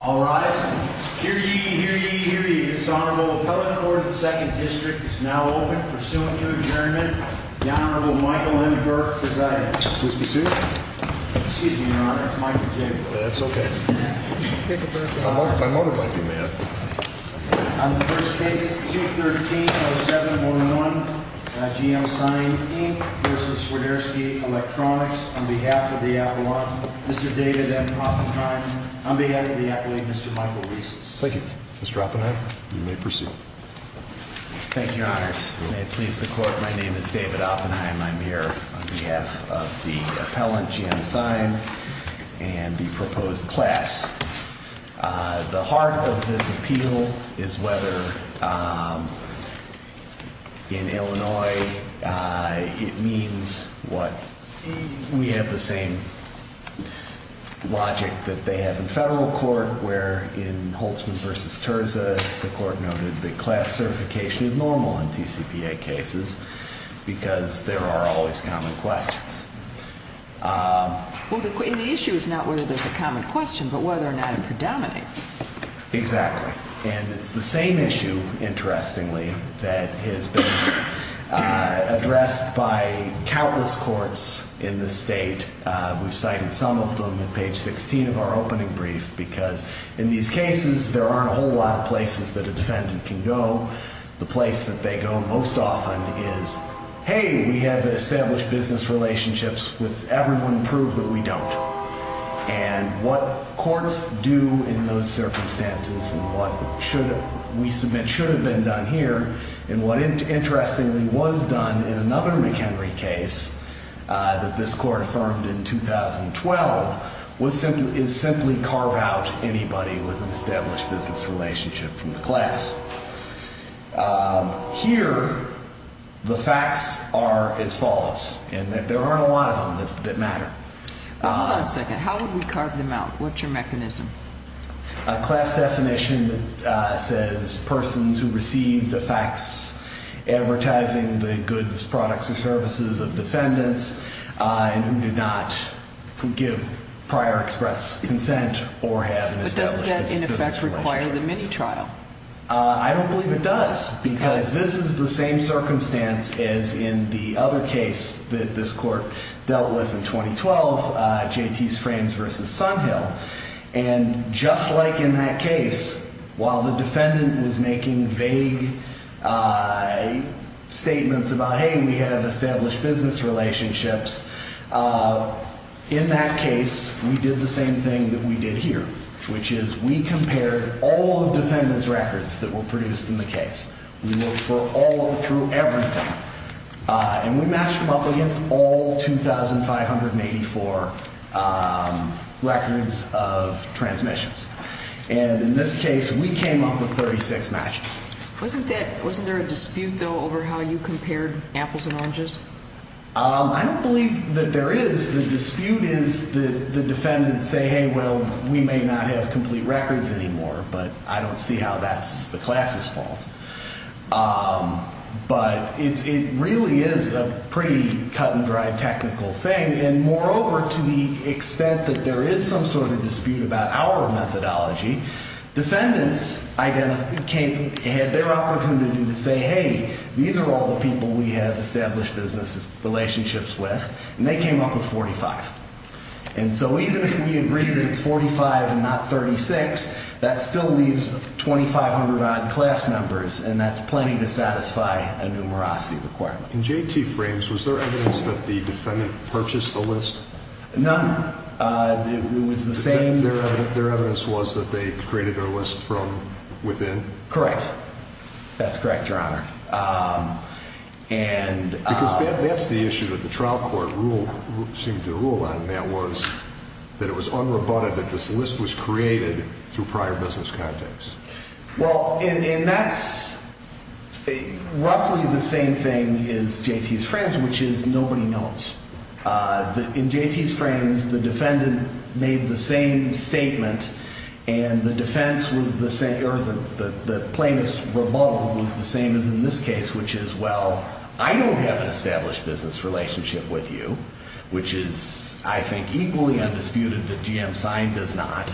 All rise. Hear ye, hear ye, hear ye. This Honorable Appellate Court of the 2nd District is now open. Pursuant to adjournment, the Honorable Michael M. Burke presides. Please be seated. Excuse me, Your Honor. It's Michael J. Burke. That's okay. My motor might be mad. On the first case, 213-07-01, G.M. Sign, Inc. v. Swiderski Electronics, on behalf of the appellant, Mr. David M. Oppenheim, on behalf of the appellate, Mr. Michael Reese. Thank you. Mr. Oppenheim, you may proceed. Thank you, Your Honors. May it please the Court, my name is David Oppenheim. I'm here on behalf of the appellant, G.M. Sign, and the proposed class. The heart of this appeal is whether in Illinois it means what we have the same logic that they have in federal court, where in Holtzman v. Terza, the court noted that class certification is normal in TCPA cases because there are always common questions. Well, the issue is not whether there's a common question, but whether or not it predominates. Exactly. And it's the same issue, interestingly, that has been addressed by countless courts in this state. We've cited some of them in page 16 of our opening brief because in these cases, there aren't a whole lot of places that a defendant can go. The place that they go most often is, hey, we have established business relationships with everyone, prove that we don't. And what courts do in those circumstances and what we submit should have been done here, and what interestingly was done in another McHenry case that this court affirmed in 2012, is simply carve out anybody with an established business relationship from the class. Here, the facts are as follows, and there aren't a lot of them that matter. Hold on a second. How would we carve them out? What's your mechanism? A class definition that says persons who received the facts advertising the goods, products, or services of defendants and who did not give prior express consent or have an established business relationship. But doesn't that, in effect, require the mini trial? I don't believe it does because this is the same circumstance as in the other case that this court dealt with in 2012, J.T.'s Frames v. Sunhill. And just like in that case, while the defendant was making vague statements about, hey, we have established business relationships, in that case, we did the same thing that we did here, which is we compared all of the defendant's records that were produced in the case. We looked for all through everything, and we matched them up against all 2,584 records of transmissions. And in this case, we came up with 36 matches. Wasn't there a dispute, though, over how you compared apples and oranges? I don't believe that there is. The dispute is the defendants say, hey, well, we may not have complete records anymore, but I don't see how that's the class' fault. But it really is a pretty cut-and-dry technical thing. And moreover, to the extent that there is some sort of dispute about our methodology, defendants had their opportunity to say, hey, these are all the people we have established business relationships with, and they came up with 45. And so even if we agree that it's 45 and not 36, that still leaves 2,500-odd class members, and that's plenty to satisfy a numerosity requirement. In JT frames, was there evidence that the defendant purchased a list? None. It was the same. Their evidence was that they created their list from within? Correct. That's correct, Your Honor. Because that's the issue that the trial court seemed to rule on, and that was that it was unrebutted that this list was created through prior business contacts. Well, and that's roughly the same thing as JT's frames, which is nobody knows. In JT's frames, the defendant made the same statement, and the defense was the same, or the plaintiff's rebuttal was the same as in this case, which is, well, I don't have an established business relationship with you, which is, I think, equally undisputed that GM signed as not.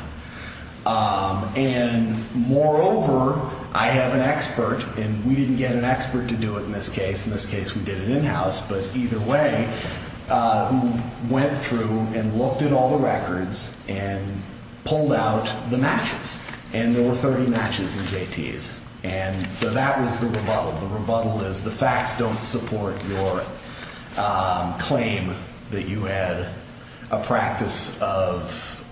And moreover, I have an expert, and we didn't get an expert to do it in this case. In this case, we did it in-house. But either way, we went through and looked at all the records and pulled out the matches. And there were 30 matches in JT's. And so that was the rebuttal. The rebuttal is the facts don't support your claim that you had a practice of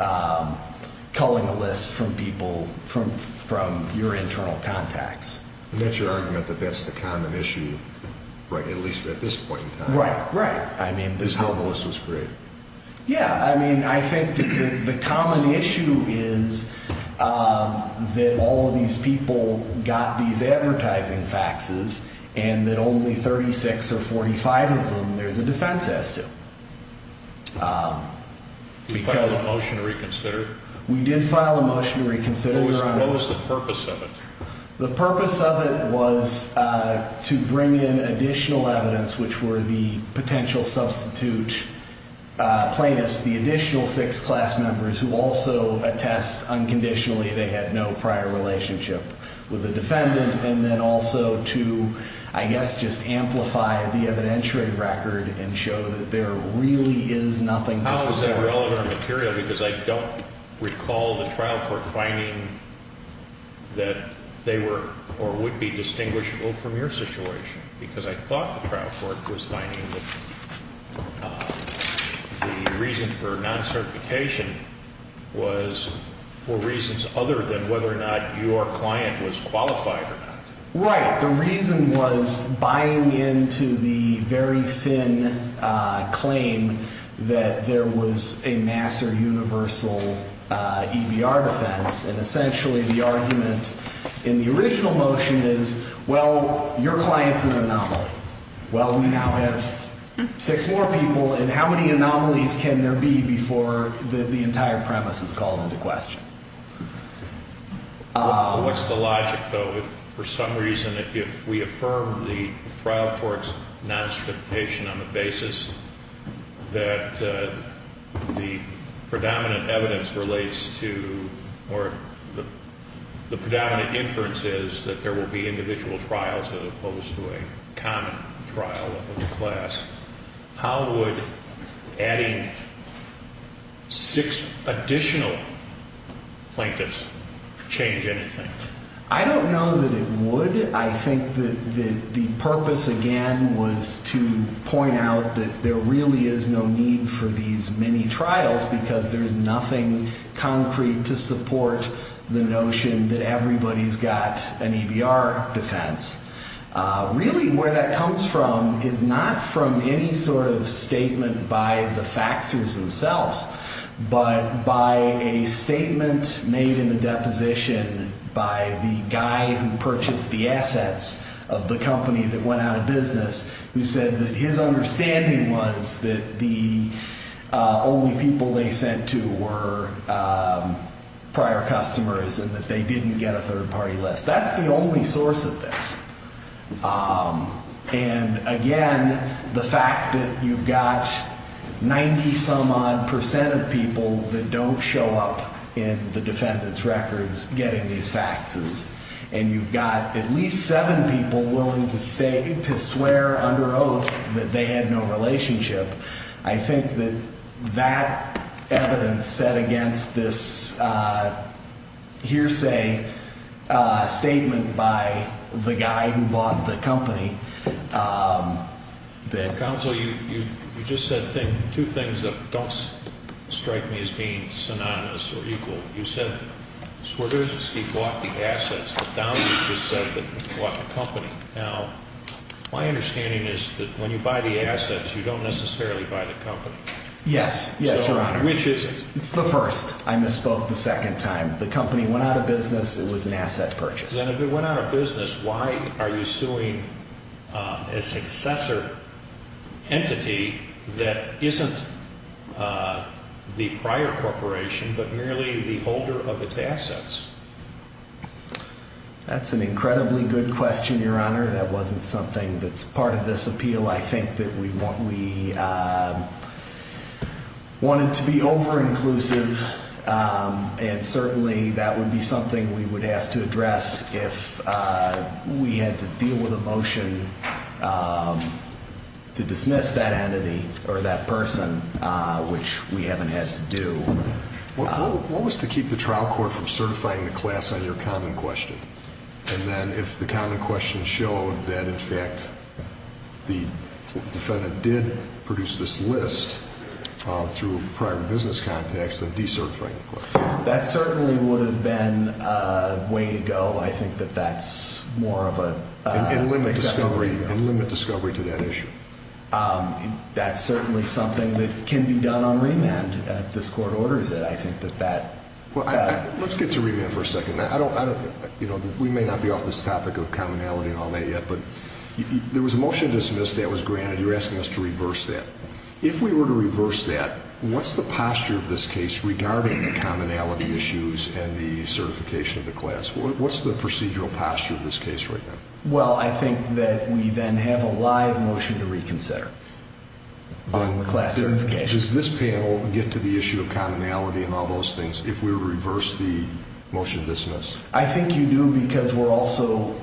culling a list from people from your internal contacts. And that's your argument that that's the common issue, at least at this point in time, is how the list was created. Yeah. I mean, I think the common issue is that all of these people got these advertising faxes and that only 36 or 45 of them there's a defense as to. Did you file a motion to reconsider? We did file a motion to reconsider, Your Honor. What was the purpose of it? The purpose of it was to bring in additional evidence, which were the potential substitute plaintiffs, the additional six class members who also attest unconditionally they had no prior relationship with the defendant, and then also to, I guess, just amplify the evidentiary record and show that there really is nothing to support. How is that relevant or material? Because I don't recall the trial court finding that they were or would be distinguishable from your situation. Because I thought the trial court was finding that the reason for non-certification was for reasons other than whether or not your client was qualified or not. Right. The reason was buying into the very thin claim that there was a mass or universal EBR defense, and essentially the argument in the original motion is, well, your client's an anomaly. Well, we now have six more people, and how many anomalies can there be before the entire premise is called into question? What's the logic, though? If for some reason if we affirm the trial court's non-certification on the basis that the predominant evidence relates to or the predominant inference is that there will be individual trials as opposed to a common trial of the class, how would adding six additional plaintiffs change anything? I don't know that it would. I think that the purpose, again, was to point out that there really is no need for these many trials because there is nothing concrete to support the notion that everybody's got an EBR defense. Really, where that comes from is not from any sort of statement by the faxers themselves, but by a statement made in the deposition by the guy who purchased the assets of the company that went out of business who said that his understanding was that the only people they sent to were prior customers and that they didn't get a third-party list. That's the only source of this. And again, the fact that you've got 90-some-odd percent of people that don't show up in the defendant's records getting these faxes and you've got at least seven people willing to swear under oath that they had no relationship, I think that that evidence set against this hearsay statement by the guy who bought the company. Counsel, you just said two things that don't strike me as being synonymous or equal. You said Swerdowski bought the assets, but Downey just said that he bought the company. Now, my understanding is that when you buy the assets, you don't necessarily buy the company. Yes. Yes, Your Honor. Which is it? It's the first. I misspoke the second time. The company went out of business. It was an asset purchase. Then if it went out of business, why are you suing a successor entity that isn't the prior corporation, but merely the holder of its assets? That's an incredibly good question, Your Honor. That wasn't something that's part of this appeal. I think that we wanted to be over-inclusive, and certainly that would be something we would have to address if we had to deal with a motion to dismiss that entity or that person, which we haven't had to do. What was to keep the trial court from certifying the class on your common question? And then if the common question showed that, in fact, the defendant did produce this list through prior business contacts, then decertifying the class. That certainly would have been a way to go. I think that that's more of an acceptable way to go. And limit discovery to that issue. That's certainly something that can be done on remand if this court orders it. Let's get to remand for a second. We may not be off this topic of commonality and all that yet, but there was a motion to dismiss that was granted. You're asking us to reverse that. If we were to reverse that, what's the posture of this case regarding the commonality issues and the certification of the class? What's the procedural posture of this case right now? Well, I think that we then have a live motion to reconsider on the class certification. Does this panel get to the issue of commonality and all those things if we were to reverse the motion to dismiss? I think you do because we're also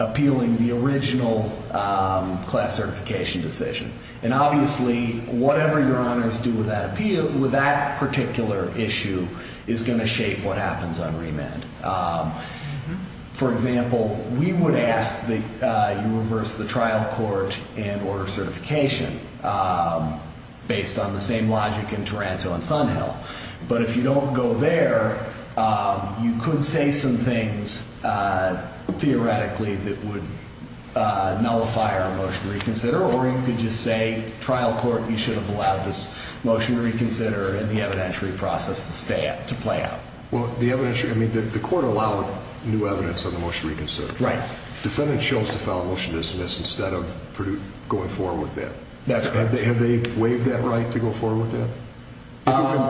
appealing the original class certification decision. And obviously, whatever your honors do with that particular issue is going to shape what happens on remand. For example, we would ask that you reverse the trial court and order certification based on the same logic in Taranto and Sunhill. But if you don't go there, you could say some things theoretically that would nullify our motion to reconsider. Or you could just say, trial court, you should have allowed this motion to reconsider and the evidentiary process to play out. The court allowed new evidence on the motion to reconsider. The defendant chose to file a motion to dismiss instead of going forward with that. Have they waived that right to go forward with that?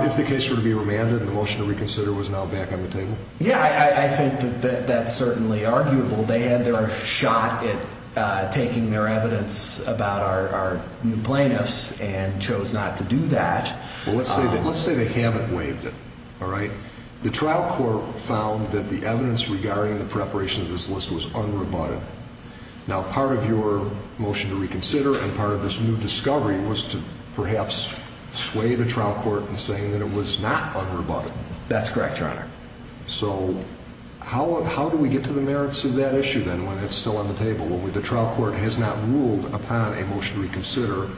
If the case were to be remanded and the motion to reconsider was now back on the table? Yeah, I think that's certainly arguable. They had their shot at taking their evidence about our new plaintiffs and chose not to do that. Well, let's say they haven't waived it, all right? The trial court found that the evidence regarding the preparation of this list was unrebutted. Now, part of your motion to reconsider and part of this new discovery was to perhaps sway the trial court in saying that it was not unrebutted. That's correct, Your Honor. So how do we get to the merits of that issue then when it's still on the table? The trial court has not ruled upon a motion to reconsider.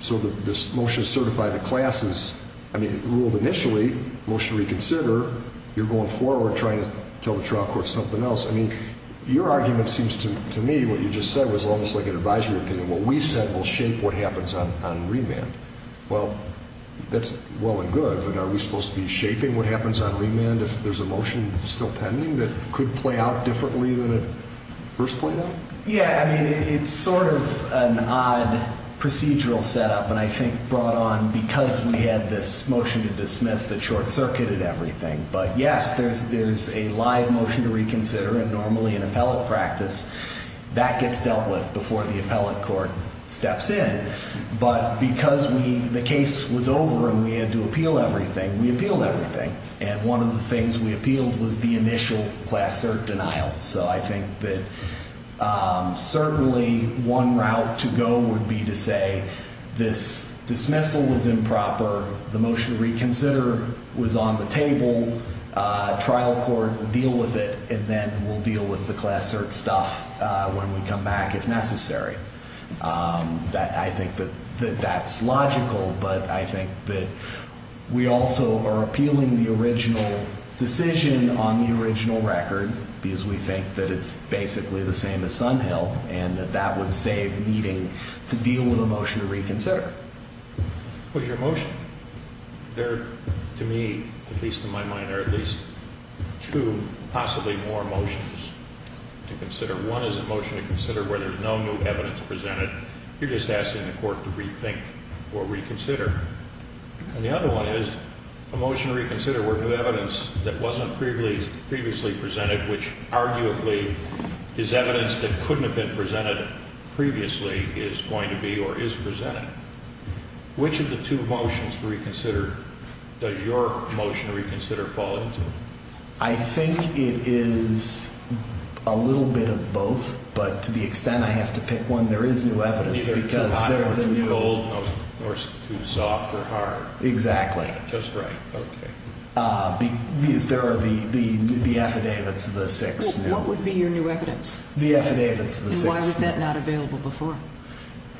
So this motion to certify the classes, I mean, ruled initially motion to reconsider. You're going forward trying to tell the trial court something else. I mean, your argument seems to me what you just said was almost like an advisory opinion. What we said will shape what happens on remand. Well, that's well and good, but are we supposed to be shaping what happens on remand if there's a motion still pending that could play out differently than it first played out? Yeah. I mean, it's sort of an odd procedural setup and I think brought on because we had this motion to dismiss that short-circuited everything. But, yes, there's a live motion to reconsider and normally in appellate practice that gets dealt with before the appellate court steps in. But because the case was over and we had to appeal everything, we appealed everything. And one of the things we appealed was the initial class cert denial. So I think that certainly one route to go would be to say this dismissal was improper. The motion to reconsider was on the table. Trial court will deal with it and then we'll deal with the class cert stuff when we come back if necessary. I think that that's logical, but I think that we also are appealing the original decision on the original record because we think that it's basically the same as Sunhill and that that would save needing to deal with a motion to reconsider. With your motion, there, to me, at least in my mind, are at least two possibly more motions to consider. One is a motion to consider where there's no new evidence presented. You're just asking the court to rethink or reconsider. And the other one is a motion to reconsider where new evidence that wasn't previously presented, which arguably is evidence that couldn't have been presented previously, is going to be or is presented. Which of the two motions to reconsider does your motion to reconsider fall into? I think it is a little bit of both, but to the extent I have to pick one, there is new evidence. Neither too hot nor too cold nor too soft or hard. Exactly. Just right. Okay. There are the affidavits of the six. What would be your new evidence? The affidavits of the six. And why was that not available before?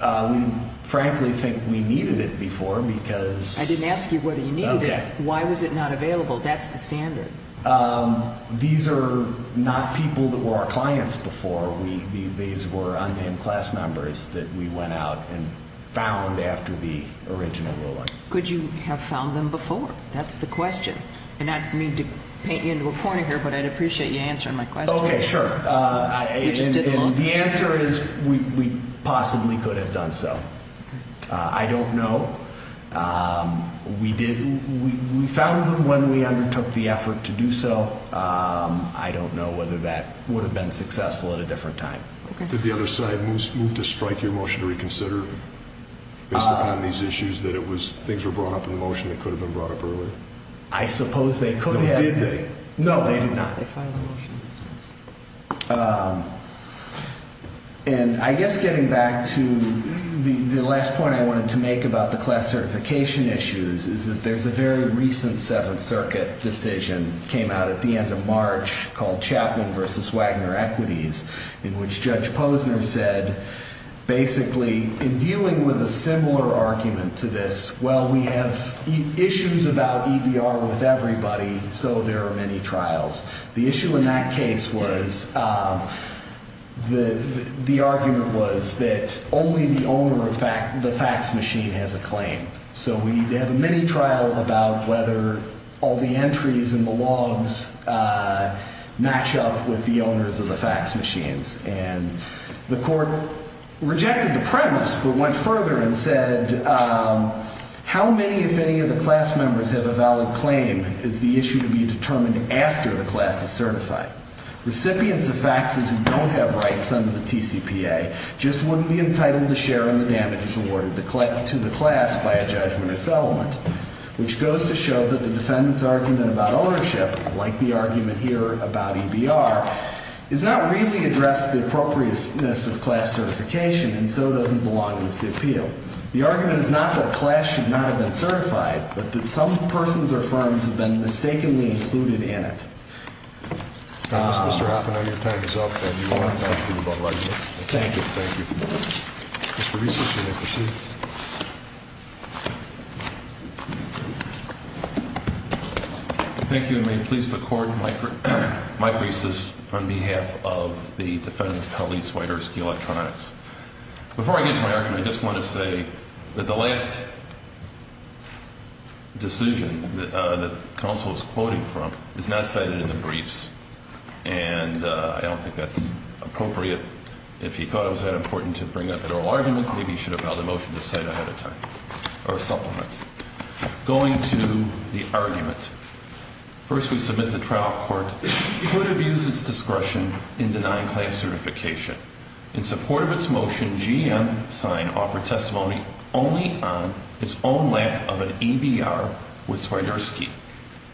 We frankly think we needed it before because... I didn't ask you whether you needed it. Okay. Why was it not available? That's the standard. These are not people that were our clients before. These were unnamed class members that we went out and found after the original ruling. Could you have found them before? That's the question. And I don't mean to paint you into a corner here, but I'd appreciate you answering my question. Okay. Sure. The answer is we possibly could have done so. I don't know. We found them when we undertook the effort to do so. I don't know whether that would have been successful at a different time. Okay. Did the other side move to strike your motion to reconsider based upon these issues that things were brought up in the motion that could have been brought up earlier? I suppose they could have. No, did they? No, they did not. They filed a motion to dismiss. And I guess getting back to the last point I wanted to make about the class certification issues, is that there's a very recent Seventh Circuit decision that came out at the end of March called Chapman v. Wagner Equities, in which Judge Posner said basically in dealing with a similar argument to this, well, we have issues about EBR with everybody, so there are many trials. The issue in that case was the argument was that only the owner of the fax machine has a claim. So we have a mini trial about whether all the entries in the logs match up with the owners of the fax machines. And the court rejected the premise but went further and said, how many, if any, of the class members have a valid claim? Is the issue to be determined after the class is certified? Recipients of faxes who don't have rights under the TCPA just wouldn't be entitled to share in the damages awarded to the class by a judgment or settlement, which goes to show that the defendant's argument about ownership, like the argument here about EBR, does not really address the appropriateness of class certification and so doesn't belong in the appeal. The argument is not that class should not have been certified, but that some persons or firms have been mistakenly included in it. Mr. Hoffman, your time is up. Thank you. Thank you. Mr. Reese, you may proceed. Thank you, and may it please the Court, Mike Reese is on behalf of the defendant, Helene Swiderski, Electronics. Before I get to my argument, I just want to say that the last decision that counsel is quoting from is not cited in the briefs, and I don't think that's appropriate. If he thought it was that important to bring up an oral argument, maybe he should have filed a motion to cite it ahead of time or supplement. Going to the argument, first we submit the trial court could have used its discretion in denying class certification. In support of its motion, GM signed offer testimony only on its own lack of an EBR with Swiderski.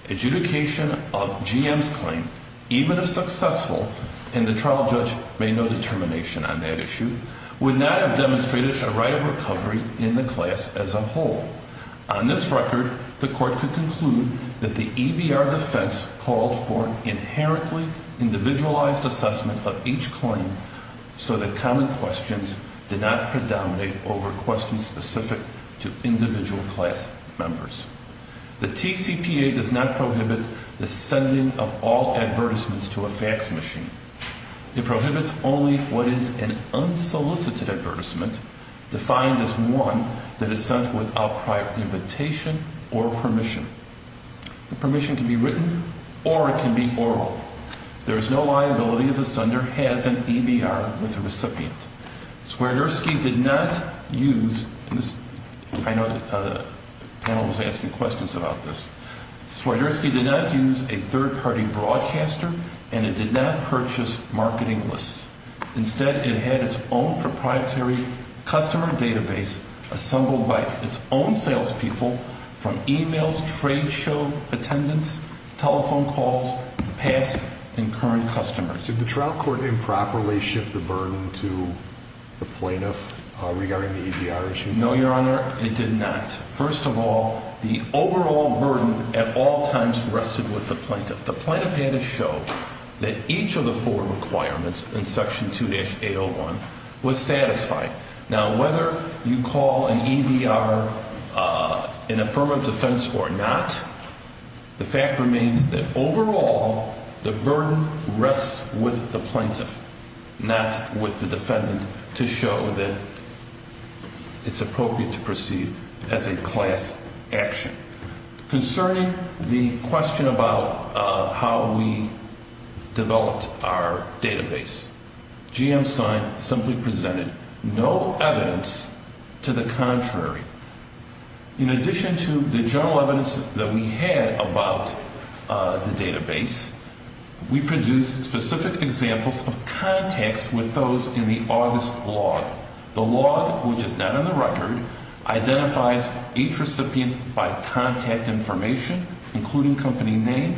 Adjudication of GM's claim, even if successful, and the trial judge made no determination on that issue, would not have demonstrated a right of recovery in the class as a whole. On this record, the court could conclude that the EBR defense called for inherently individualized assessment of each claim so that common questions did not predominate over questions specific to individual class members. The TCPA does not prohibit the sending of all advertisements to a fax machine. It prohibits only what is an unsolicited advertisement, defined as one that is sent without prior invitation or permission. The permission can be written or it can be oral. There is no liability if the sender has an EBR with the recipient. Swiderski did not use, and I know the panel was asking questions about this, Swiderski did not use a third-party broadcaster and it did not purchase marketing lists. Instead, it had its own proprietary customer database assembled by its own salespeople from emails, trade show attendance, telephone calls, past and current customers. Did the trial court improperly shift the burden to the plaintiff regarding the EBR issue? No, Your Honor, it did not. First of all, the overall burden at all times rested with the plaintiff. The plaintiff had to show that each of the four requirements in Section 2-801 was satisfied. Now, whether you call an EBR an affirmative defense or not, the fact remains that overall the burden rests with the plaintiff, not with the defendant, to show that it's appropriate to proceed as a class action. Concerning the question about how we developed our database, GM-Sign simply presented no evidence to the contrary. In addition to the general evidence that we had about the database, we produced specific examples of contacts with those in the August log. The log, which is not on the record, identifies each recipient by contact information, including company name,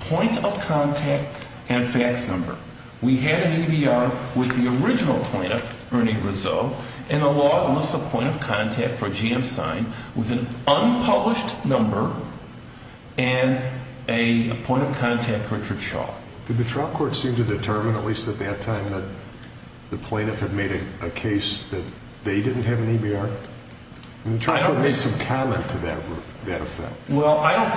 point of contact, and fax number. We had an EBR with the original plaintiff, Ernie Rizzo, and the log lists a point of contact for GM-Sign with an unpublished number and a point of contact, Richard Shaw. Did the trial court seem to determine, at least at that time, that the plaintiff had made a case that they didn't have an EBR? The trial court made some comment to that effect. Well,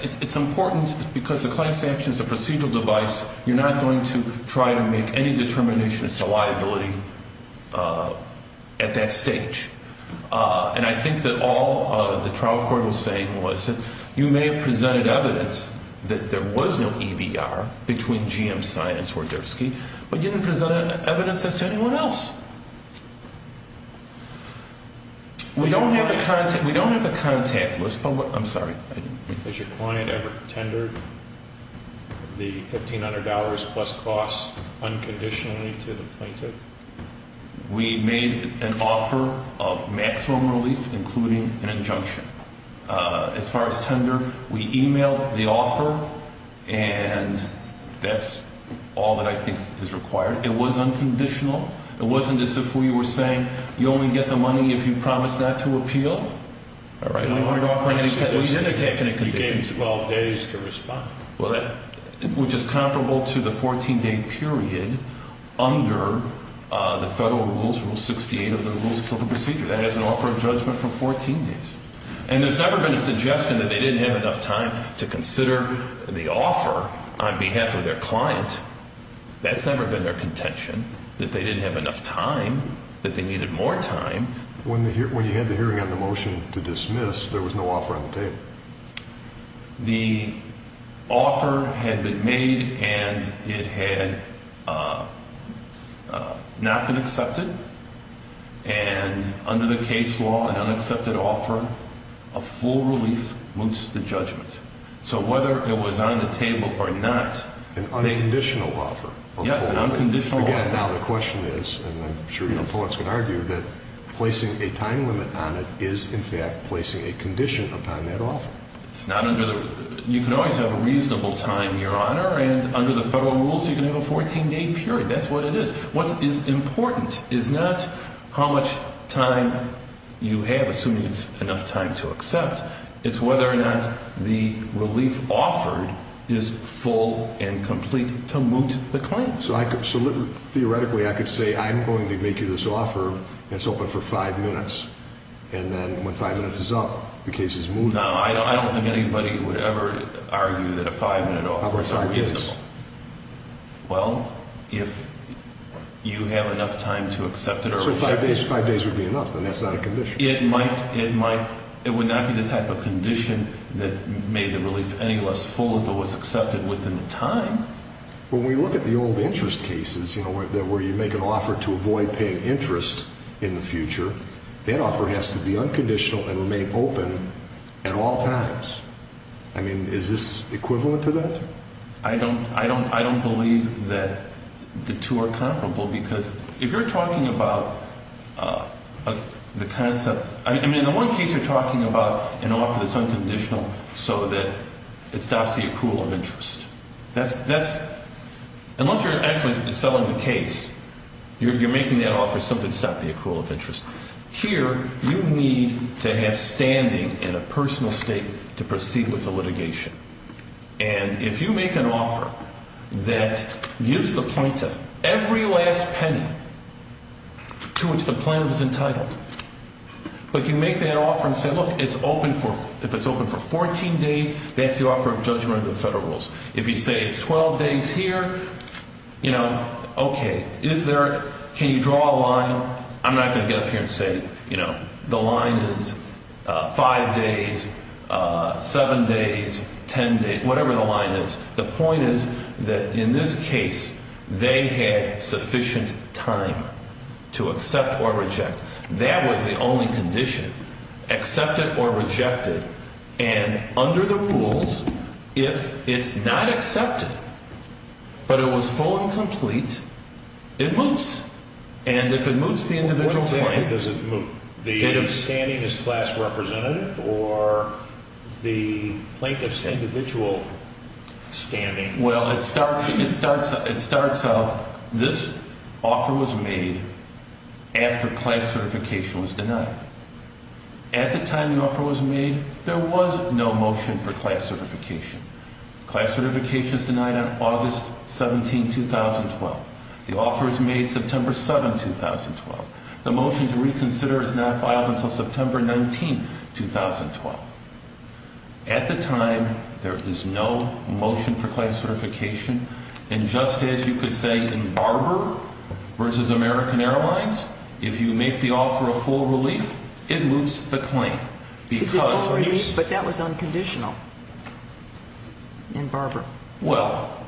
it's important because the class action is a procedural device. You're not going to try to make any determinations to liability at that stage. And I think that all the trial court was saying was that you may have presented evidence that there was no EBR between GM-Sign and Swarderski, but you didn't present evidence as to anyone else. We don't have a contact list, but what – I'm sorry. Has your client ever tendered the $1,500 plus costs unconditionally to the plaintiff? We made an offer of maximum relief, including an injunction. As far as tender, we emailed the offer, and that's all that I think is required. It was unconditional. It wasn't as if we were saying you only get the money if you promise not to appeal. All right. We didn't take any conditions. You gave 12 days to respond. Which is comparable to the 14-day period under the federal rules, Rule 68 of the Civil Procedure. That has an offer of judgment for 14 days. And there's never been a suggestion that they didn't have enough time to consider the offer on behalf of their client. That's never been their contention, that they didn't have enough time, that they needed more time. When you had the hearing on the motion to dismiss, there was no offer on the table. The offer had been made, and it had not been accepted. And under the case law, an unaccepted offer of full relief moots the judgment. So whether it was on the table or not, they— An unconditional offer of full relief. Yes, an unconditional offer. Again, now the question is, and I'm sure your opponents could argue, that placing a time limit on it is in fact placing a condition upon that offer. It's not under the—you can always have a reasonable time, Your Honor, and under the federal rules, you can have a 14-day period. That's what it is. What is important is not how much time you have, assuming it's enough time to accept. It's whether or not the relief offered is full and complete to moot the claim. So theoretically, I could say, I'm going to make you this offer, and it's open for five minutes, and then when five minutes is up, the case is mooted. No, I don't think anybody would ever argue that a five-minute offer is unreasonable. How about five days? Well, if you have enough time to accept it or— So five days would be enough, then that's not a condition. It might—it would not be the type of condition that made the relief any less full if it was accepted within the time. Well, when we look at the old interest cases, you know, where you make an offer to avoid paying interest in the future, that offer has to be unconditional and remain open at all times. I mean, is this equivalent to that? I don't believe that the two are comparable because if you're talking about the concept— I mean, in one case, you're talking about an offer that's unconditional so that it stops the accrual of interest. That's—unless you're actually selling the case, you're making that offer so that it stops the accrual of interest. Here, you need to have standing in a personal state to proceed with the litigation. And if you make an offer that gives the plaintiff every last penny to which the plaintiff is entitled, but you make that offer and say, look, it's open for—if it's open for 14 days, that's the offer of judgment under the federal rules. If you say it's 12 days here, you know, okay, is there—can you draw a line? I'm not going to get up here and say, you know, the line is 5 days, 7 days, 10 days, whatever the line is. The point is that in this case, they had sufficient time to accept or reject. That was the only condition, accept it or reject it. And under the rules, if it's not accepted but it was full and complete, it moots. And if it moots the individual plaintiff— What time does it moot? The standing is class representative or the plaintiff's individual standing? Well, it starts out—this offer was made after class certification was denied. At the time the offer was made, there was no motion for class certification. Class certification is denied on August 17, 2012. The offer is made September 7, 2012. The motion to reconsider is not filed until September 19, 2012. At the time, there is no motion for class certification. And just as you could say in Barber v. American Airlines, if you make the offer a full relief, it moots the claim because— It's a full relief, but that was unconditional in Barber. Well,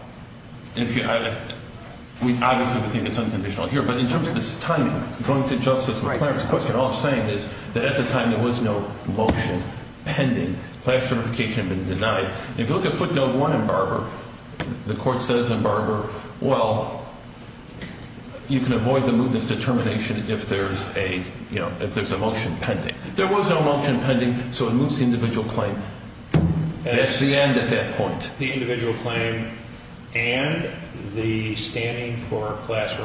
if you—obviously, we think it's unconditional here. But in terms of the timing, going to Justice McClaren's question, all I'm saying is that at the time there was no motion pending. Class certification had been denied. If you look at footnote 1 in Barber, the court says in Barber, well, you can avoid the mootness determination if there's a motion pending. There was no motion pending, so it moots the individual claim. That's the end at that point. What about the individual claim and the standing for class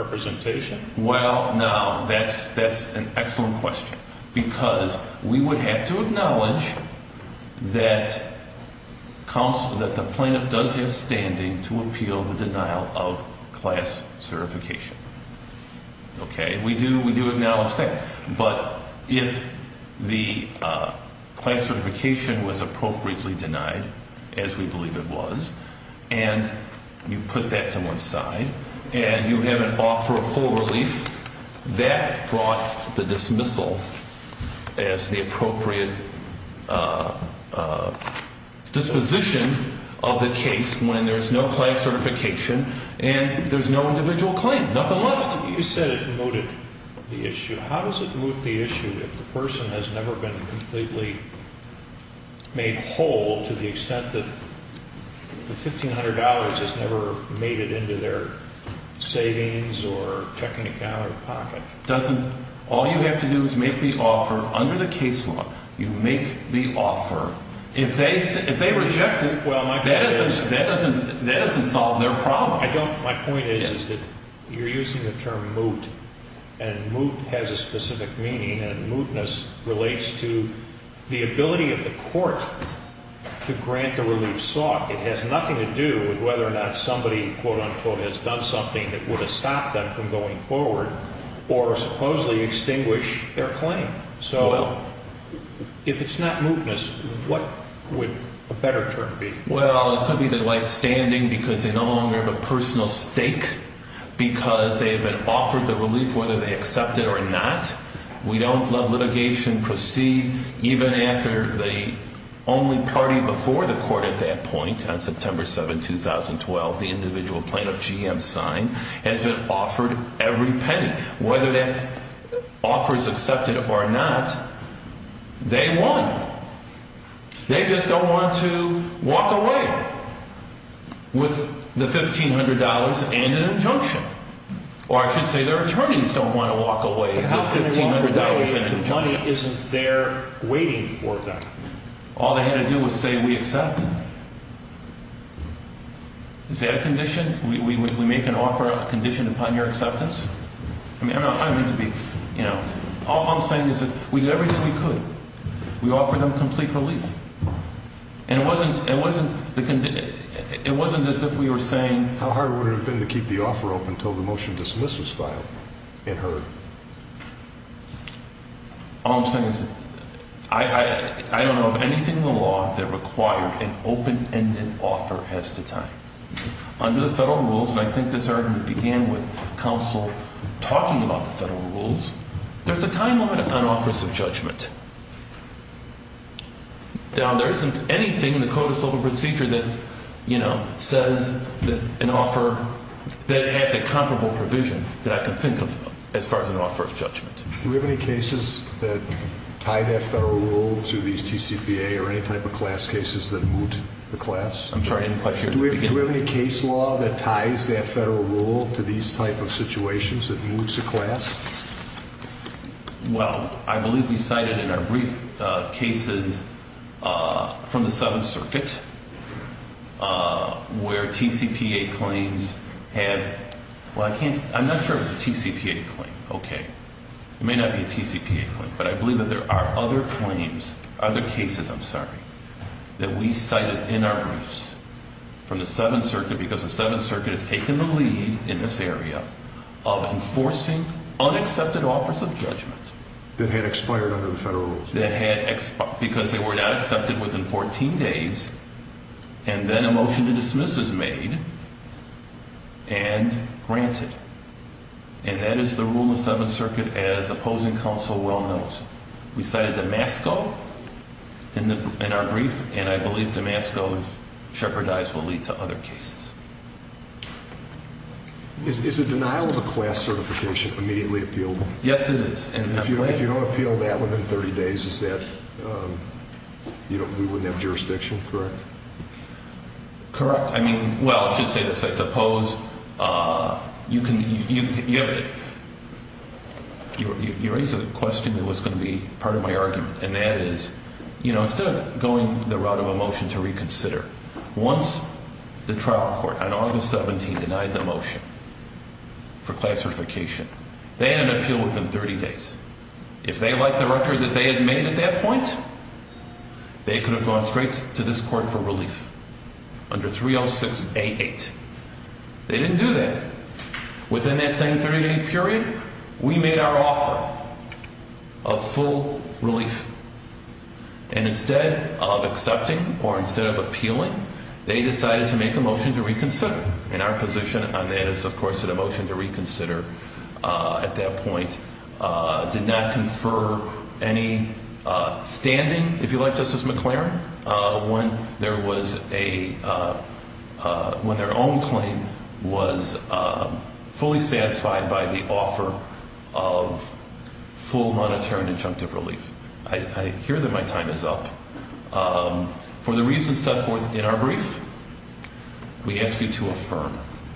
representation? Well, now, that's an excellent question because we would have to acknowledge that the plaintiff does have standing to appeal the denial of class certification. Okay? We do acknowledge that. But if the class certification was appropriately denied, as we believe it was, and you put that to one side and you have an offer of full relief, that brought the dismissal as the appropriate disposition of the case when there's no class certification and there's no individual claim, nothing left. You said it mooted the issue. How does it moot the issue if the person has never been completely made whole to the extent that the $1,500 has never made it into their savings or checking account or pocket? All you have to do is make the offer under the case law. You make the offer. If they reject it, that doesn't solve their problem. My point is that you're using the term moot, and moot has a specific meaning, and mootness relates to the ability of the court to grant the relief sought. It has nothing to do with whether or not somebody, quote, unquote, has done something that would have stopped them from going forward or supposedly extinguish their claim. So if it's not mootness, what would a better term be? Well, it could be they're light standing because they no longer have a personal stake because they have been offered the relief whether they accept it or not. We don't let litigation proceed even after the only party before the court at that point on September 7, 2012, the individual plaintiff, GM Sign, has been offered every penny. Whether that offer is accepted or not, they won. They just don't want to walk away with the $1,500 and an injunction. Or I should say their attorneys don't want to walk away with $1,500 and an injunction. The money isn't there waiting for them. All they had to do was say we accept. Is that a condition? We make an offer, a condition upon your acceptance? All I'm saying is that we did everything we could. We offered them complete relief. And it wasn't as if we were saying... How hard would it have been to keep the offer open until the motion to dismiss was filed and heard? All I'm saying is I don't know of anything in the law that required an open-ended offer as to time. Under the federal rules, and I think this argument began with counsel talking about the federal rules, there's a time limit on offers of judgment. Now, there isn't anything in the Code of Civil Procedure that says that an offer... that it has a comparable provision that I can think of as far as an offer of judgment. Do we have any cases that tie that federal rule to these TCPA or any type of class cases that moot the class? I'm sorry, I didn't quite hear the beginning. Do we have any case law that ties that federal rule to these type of situations that moot the class? Well, I believe we cited in our brief cases from the Seventh Circuit where TCPA claims have... Well, I can't... I'm not sure if it's a TCPA claim. Okay. It may not be a TCPA claim, but I believe that there are other claims, other cases, I'm sorry, that we cited in our briefs from the Seventh Circuit because the Seventh Circuit has taken the lead in this area of enforcing unaccepted offers of judgment. That had expired under the federal rules. That had expired because they were not accepted within 14 days and then a motion to dismiss was made and granted. And that is the rule of the Seventh Circuit as opposing counsel well knows. We cited Damasco in our brief, and I believe Damasco, if shepherdized, will lead to other cases. Is the denial of a class certification immediately appealable? Yes, it is. If you don't appeal that within 30 days, is that... we wouldn't have jurisdiction, correct? Correct. I mean, well, I should say this. I suppose you can... you raised a question that was going to be part of my argument, and that is, you know, instead of going the route of a motion to reconsider, once the trial court on August 17 denied the motion for class certification, they had an appeal within 30 days. If they liked the record that they had made at that point, they could have gone straight to this court for relief. Under 306A8. They didn't do that. Within that same 30-day period, we made our offer of full relief. And instead of accepting or instead of appealing, they decided to make a motion to reconsider. And our position on that is, of course, that a motion to reconsider at that point did not confer any standing. If you like, Justice McClaren, when there was a... when their own claim was fully satisfied by the offer of full monetary and injunctive relief. I hear that my time is up. For the reasons set forth in our brief, we ask you to affirm.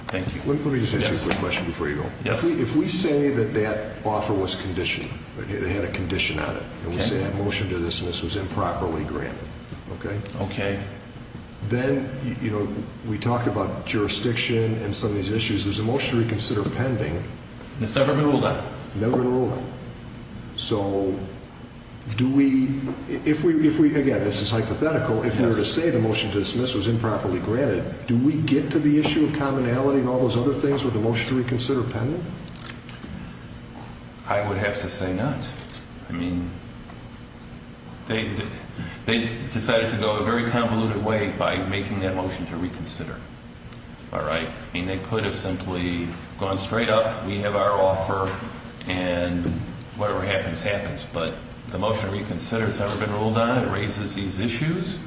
Thank you. Let me just ask you a quick question before you go. If we say that that offer was conditioned, it had a condition on it, and we say that motion to dismiss was improperly granted, okay? Okay. Then, you know, we talk about jurisdiction and some of these issues. There's a motion to reconsider pending. It's never been ruled on. Never been ruled on. So, do we... if we... again, this is hypothetical. If we were to say the motion to dismiss was improperly granted, do we get to the issue of commonality and all those other things with the motion to reconsider pending? I would have to say not. I mean, they decided to go a very convoluted way by making that motion to reconsider. All right? I mean, they could have simply gone straight up. We have our offer, and whatever happens, happens. But the motion to reconsider has never been ruled on. It raises these issues.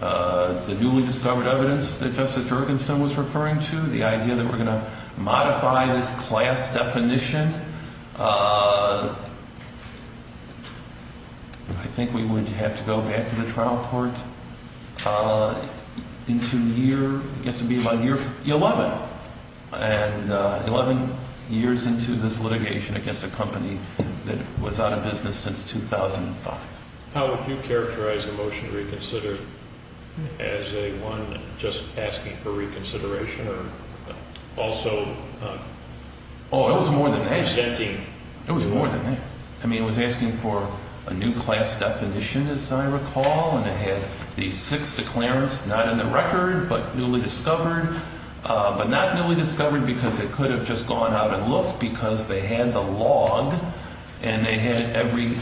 The newly discovered evidence that Justice Jorgensen was referring to, the idea that we're going to modify this class definition. I think we would have to go back to the trial court into year... I guess it would be about year 11. And 11 years into this litigation against a company that was out of business since 2005. How would you characterize the motion to reconsider as a one just asking for reconsideration or also... Oh, it was more than that. ...presenting... It was more than that. I mean, it was asking for a new class definition, as I recall. And it had these six declarants, not in the record, but newly discovered. But not newly discovered because it could have just gone out and looked because they had the log, and they had every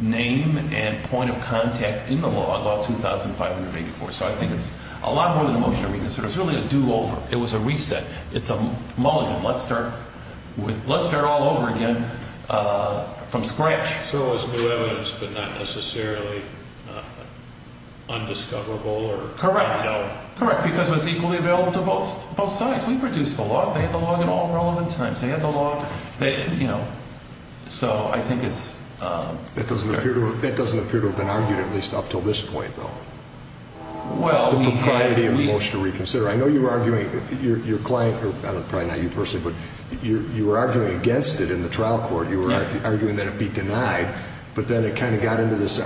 name and point of contact in the log, all 2,584. So I think it's a lot more than a motion to reconsider. It's really a do-over. It was a reset. It's a mulligan. Let's start all over again from scratch. So it was new evidence, but not necessarily undiscoverable or... Correct. Correct, because it was equally available to both sides. We produced the log. They had the log at all relevant times. They had the log. So I think it's... That doesn't appear to have been argued at least up until this point, though, the propriety of the motion to reconsider. I know you were arguing, your client, or probably not you personally, but you were arguing against it in the trial court. You were arguing that it be denied. But then it kind of got into this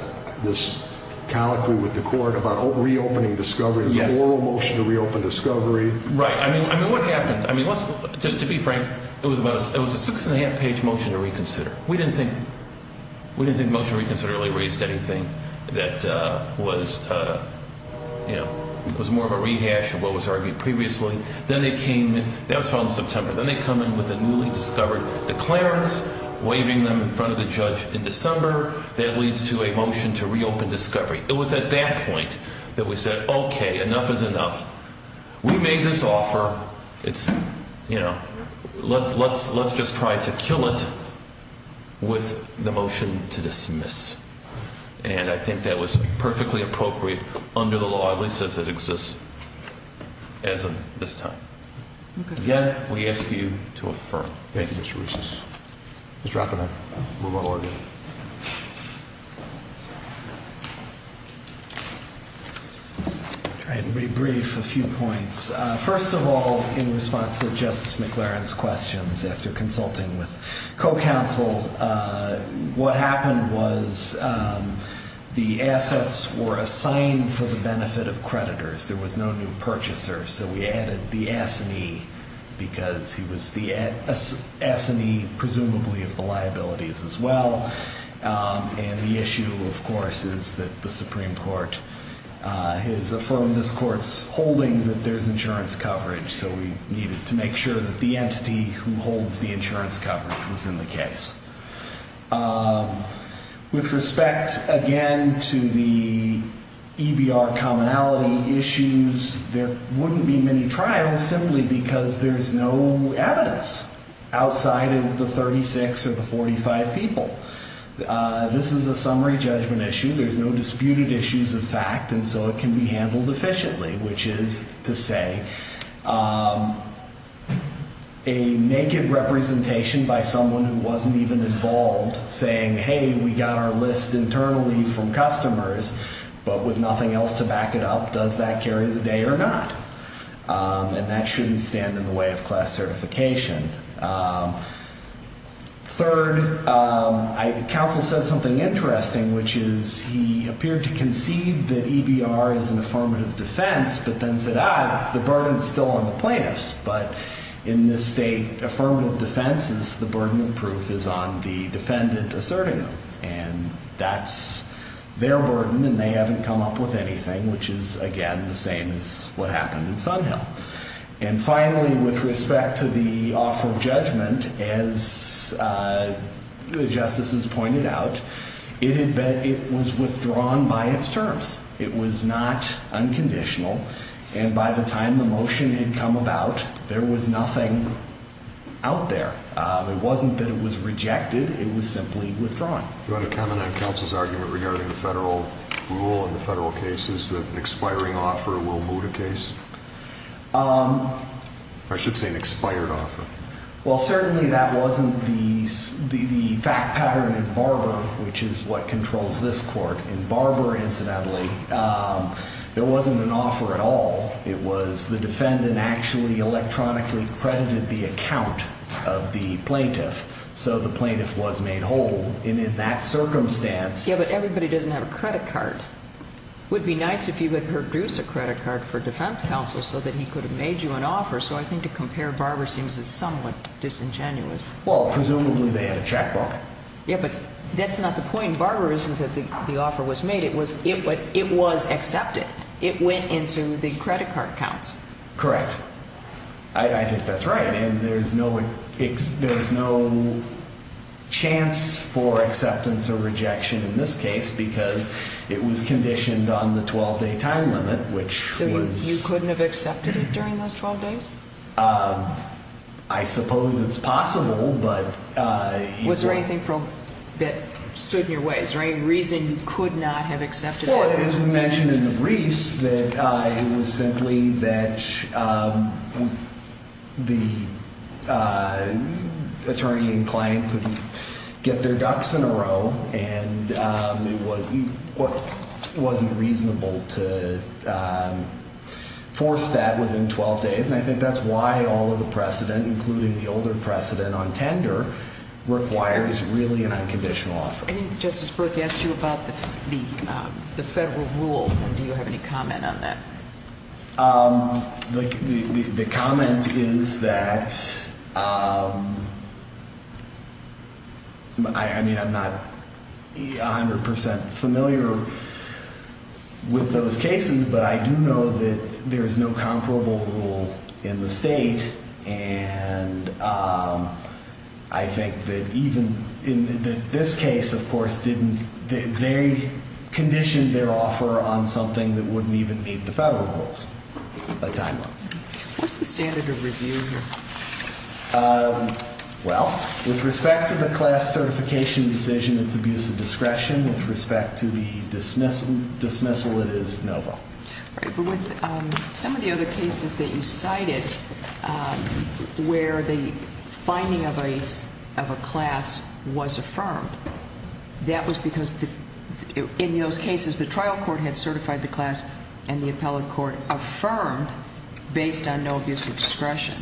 colloquy with the court about reopening discovery. It was an oral motion to reopen discovery. Right. I mean, what happened? I mean, to be frank, it was a six-and-a-half-page motion to reconsider. We didn't think motion to reconsider really raised anything that was more of a rehash of what was argued previously. Then they came in. That was from September. Then they come in with a newly discovered declarance, waiving them in front of the judge in December. That leads to a motion to reopen discovery. It was at that point that we said, okay, enough is enough. We made this offer. It's, you know, let's just try to kill it with the motion to dismiss. And I think that was perfectly appropriate under the law, at least as it exists as of this time. Again, we ask you to affirm. Thank you, Mr. Reusses. Mr. Rafferty, we'll move on. I'll try to be brief, a few points. First of all, in response to Justice McLaren's questions after consulting with co-counsel, what happened was the assets were assigned for the benefit of creditors. There was no new purchaser. So we added the S&E because he was the S&E presumably of the liabilities as well. And the issue, of course, is that the Supreme Court has affirmed this court's holding that there's insurance coverage. So we needed to make sure that the entity who holds the insurance coverage was in the case. With respect, again, to the EBR commonality issues, there wouldn't be many trials simply because there's no evidence outside of the 36 or the 45 people. This is a summary judgment issue. There's no disputed issues of fact, and so it can be handled efficiently, which is to say a naked representation by someone who wasn't even involved saying, hey, we got our list internally from customers, but with nothing else to back it up. Does that carry the day or not? And that shouldn't stand in the way of class certification. Third, counsel said something interesting, which is he appeared to concede that EBR is an affirmative defense, but then said, ah, the burden's still on the plaintiffs. But in this state, affirmative defense is the burden of proof is on the defendant asserting them. And that's their burden, and they haven't come up with anything, which is, again, the same as what happened in Sunhill. And finally, with respect to the offer of judgment, as the justices pointed out, it was withdrawn by its terms. It was not unconditional. And by the time the motion had come about, there was nothing out there. It wasn't that it was rejected. It was simply withdrawn. Do you want to comment on counsel's argument regarding the federal rule and the federal cases that an expiring offer will moot a case? I should say an expired offer. Well, certainly that wasn't the fact pattern in Barber, which is what controls this court. In Barber, incidentally, there wasn't an offer at all. It was the defendant actually electronically credited the account of the plaintiff, so the plaintiff was made whole. And in that circumstance ---- Yeah, but everybody doesn't have a credit card. It would be nice if you would produce a credit card for defense counsel so that he could have made you an offer. So I think to compare Barber seems somewhat disingenuous. Well, presumably they had a checkbook. Yeah, but that's not the point. Barber isn't that the offer was made. It was accepted. It went into the credit card account. Correct. I think that's right. And there's no chance for acceptance or rejection in this case because it was conditioned on the 12-day time limit, which was ---- So you couldn't have accepted it during those 12 days? I suppose it's possible, but ---- Was there anything that stood in your way? Is there any reason you could not have accepted it? Well, as we mentioned in the briefs, it was simply that the attorney and client couldn't get their ducks in a row and it wasn't reasonable to force that within 12 days. And I think that's why all of the precedent, including the older precedent on tender, requires really an unconditional offer. I think Justice Brook asked you about the federal rules, and do you have any comment on that? The comment is that, I mean, I'm not 100% familiar with those cases, but I do know that there is no comparable rule in the state, and I think that even in this case, of course, they conditioned their offer on something that wouldn't even meet the federal rules, a time limit. What's the standard of review here? Well, with respect to the class certification decision, it's abuse of discretion. With respect to the dismissal, it is no vote. But with some of the other cases that you cited where the finding of a class was affirmed, that was because in those cases the trial court had certified the class and the appellate court affirmed based on no abuse of discretion.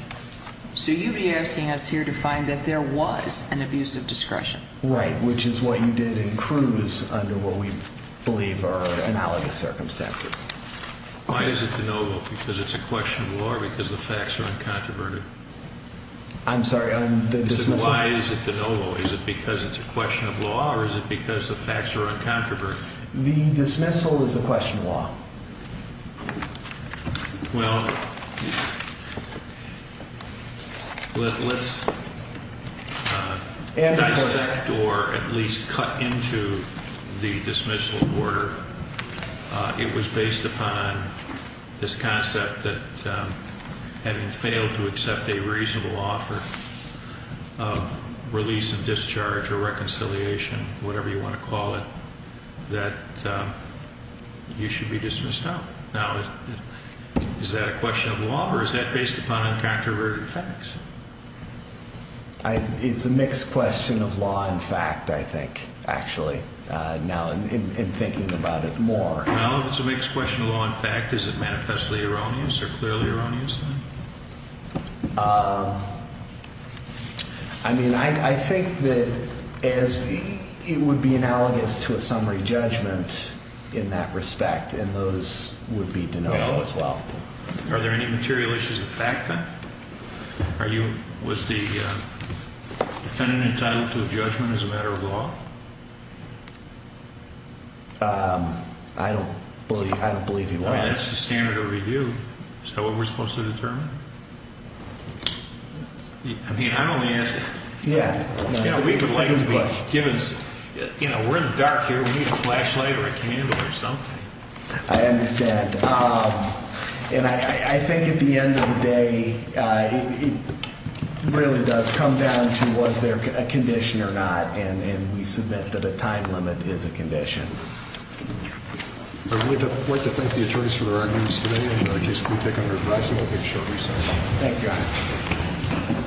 So you'd be asking us here to find that there was an abuse of discretion. Right, which is what you did in Cruz under what we believe are analogous circumstances. Why is it a no vote? Because it's a question of law or because the facts are uncontroverted? I'm sorry. Why is it a no vote? Is it because it's a question of law or is it because the facts are uncontroverted? The dismissal is a question of law. Well, let's dissect or at least cut into the dismissal order. It was based upon this concept that having failed to accept a reasonable offer of release and discharge or reconciliation, whatever you want to call it, that you should be dismissed out. Now, is that a question of law or is that based upon uncontroverted facts? It's a mixed question of law and fact, I think, actually, now in thinking about it more. Now, if it's a mixed question of law and fact, is it manifestly erroneous or clearly erroneous? I mean, I think that it would be analogous to a summary judgment in that respect, and those would be denoted as well. Are there any material issues of fact then? Was the defendant entitled to a judgment as a matter of law? I don't believe he was. I mean, that's the standard of review. Is that what we're supposed to determine? I mean, I don't want to answer that. Yeah. You know, we're in the dark here. We need a flashlight or a candle or something. I understand, and I think at the end of the day, it really does come down to was there a condition or not, and we submit that a time limit is a condition. I'd like to thank the attorneys for their arguments today, and I guess we'll take them under advice, and we'll take a short recess.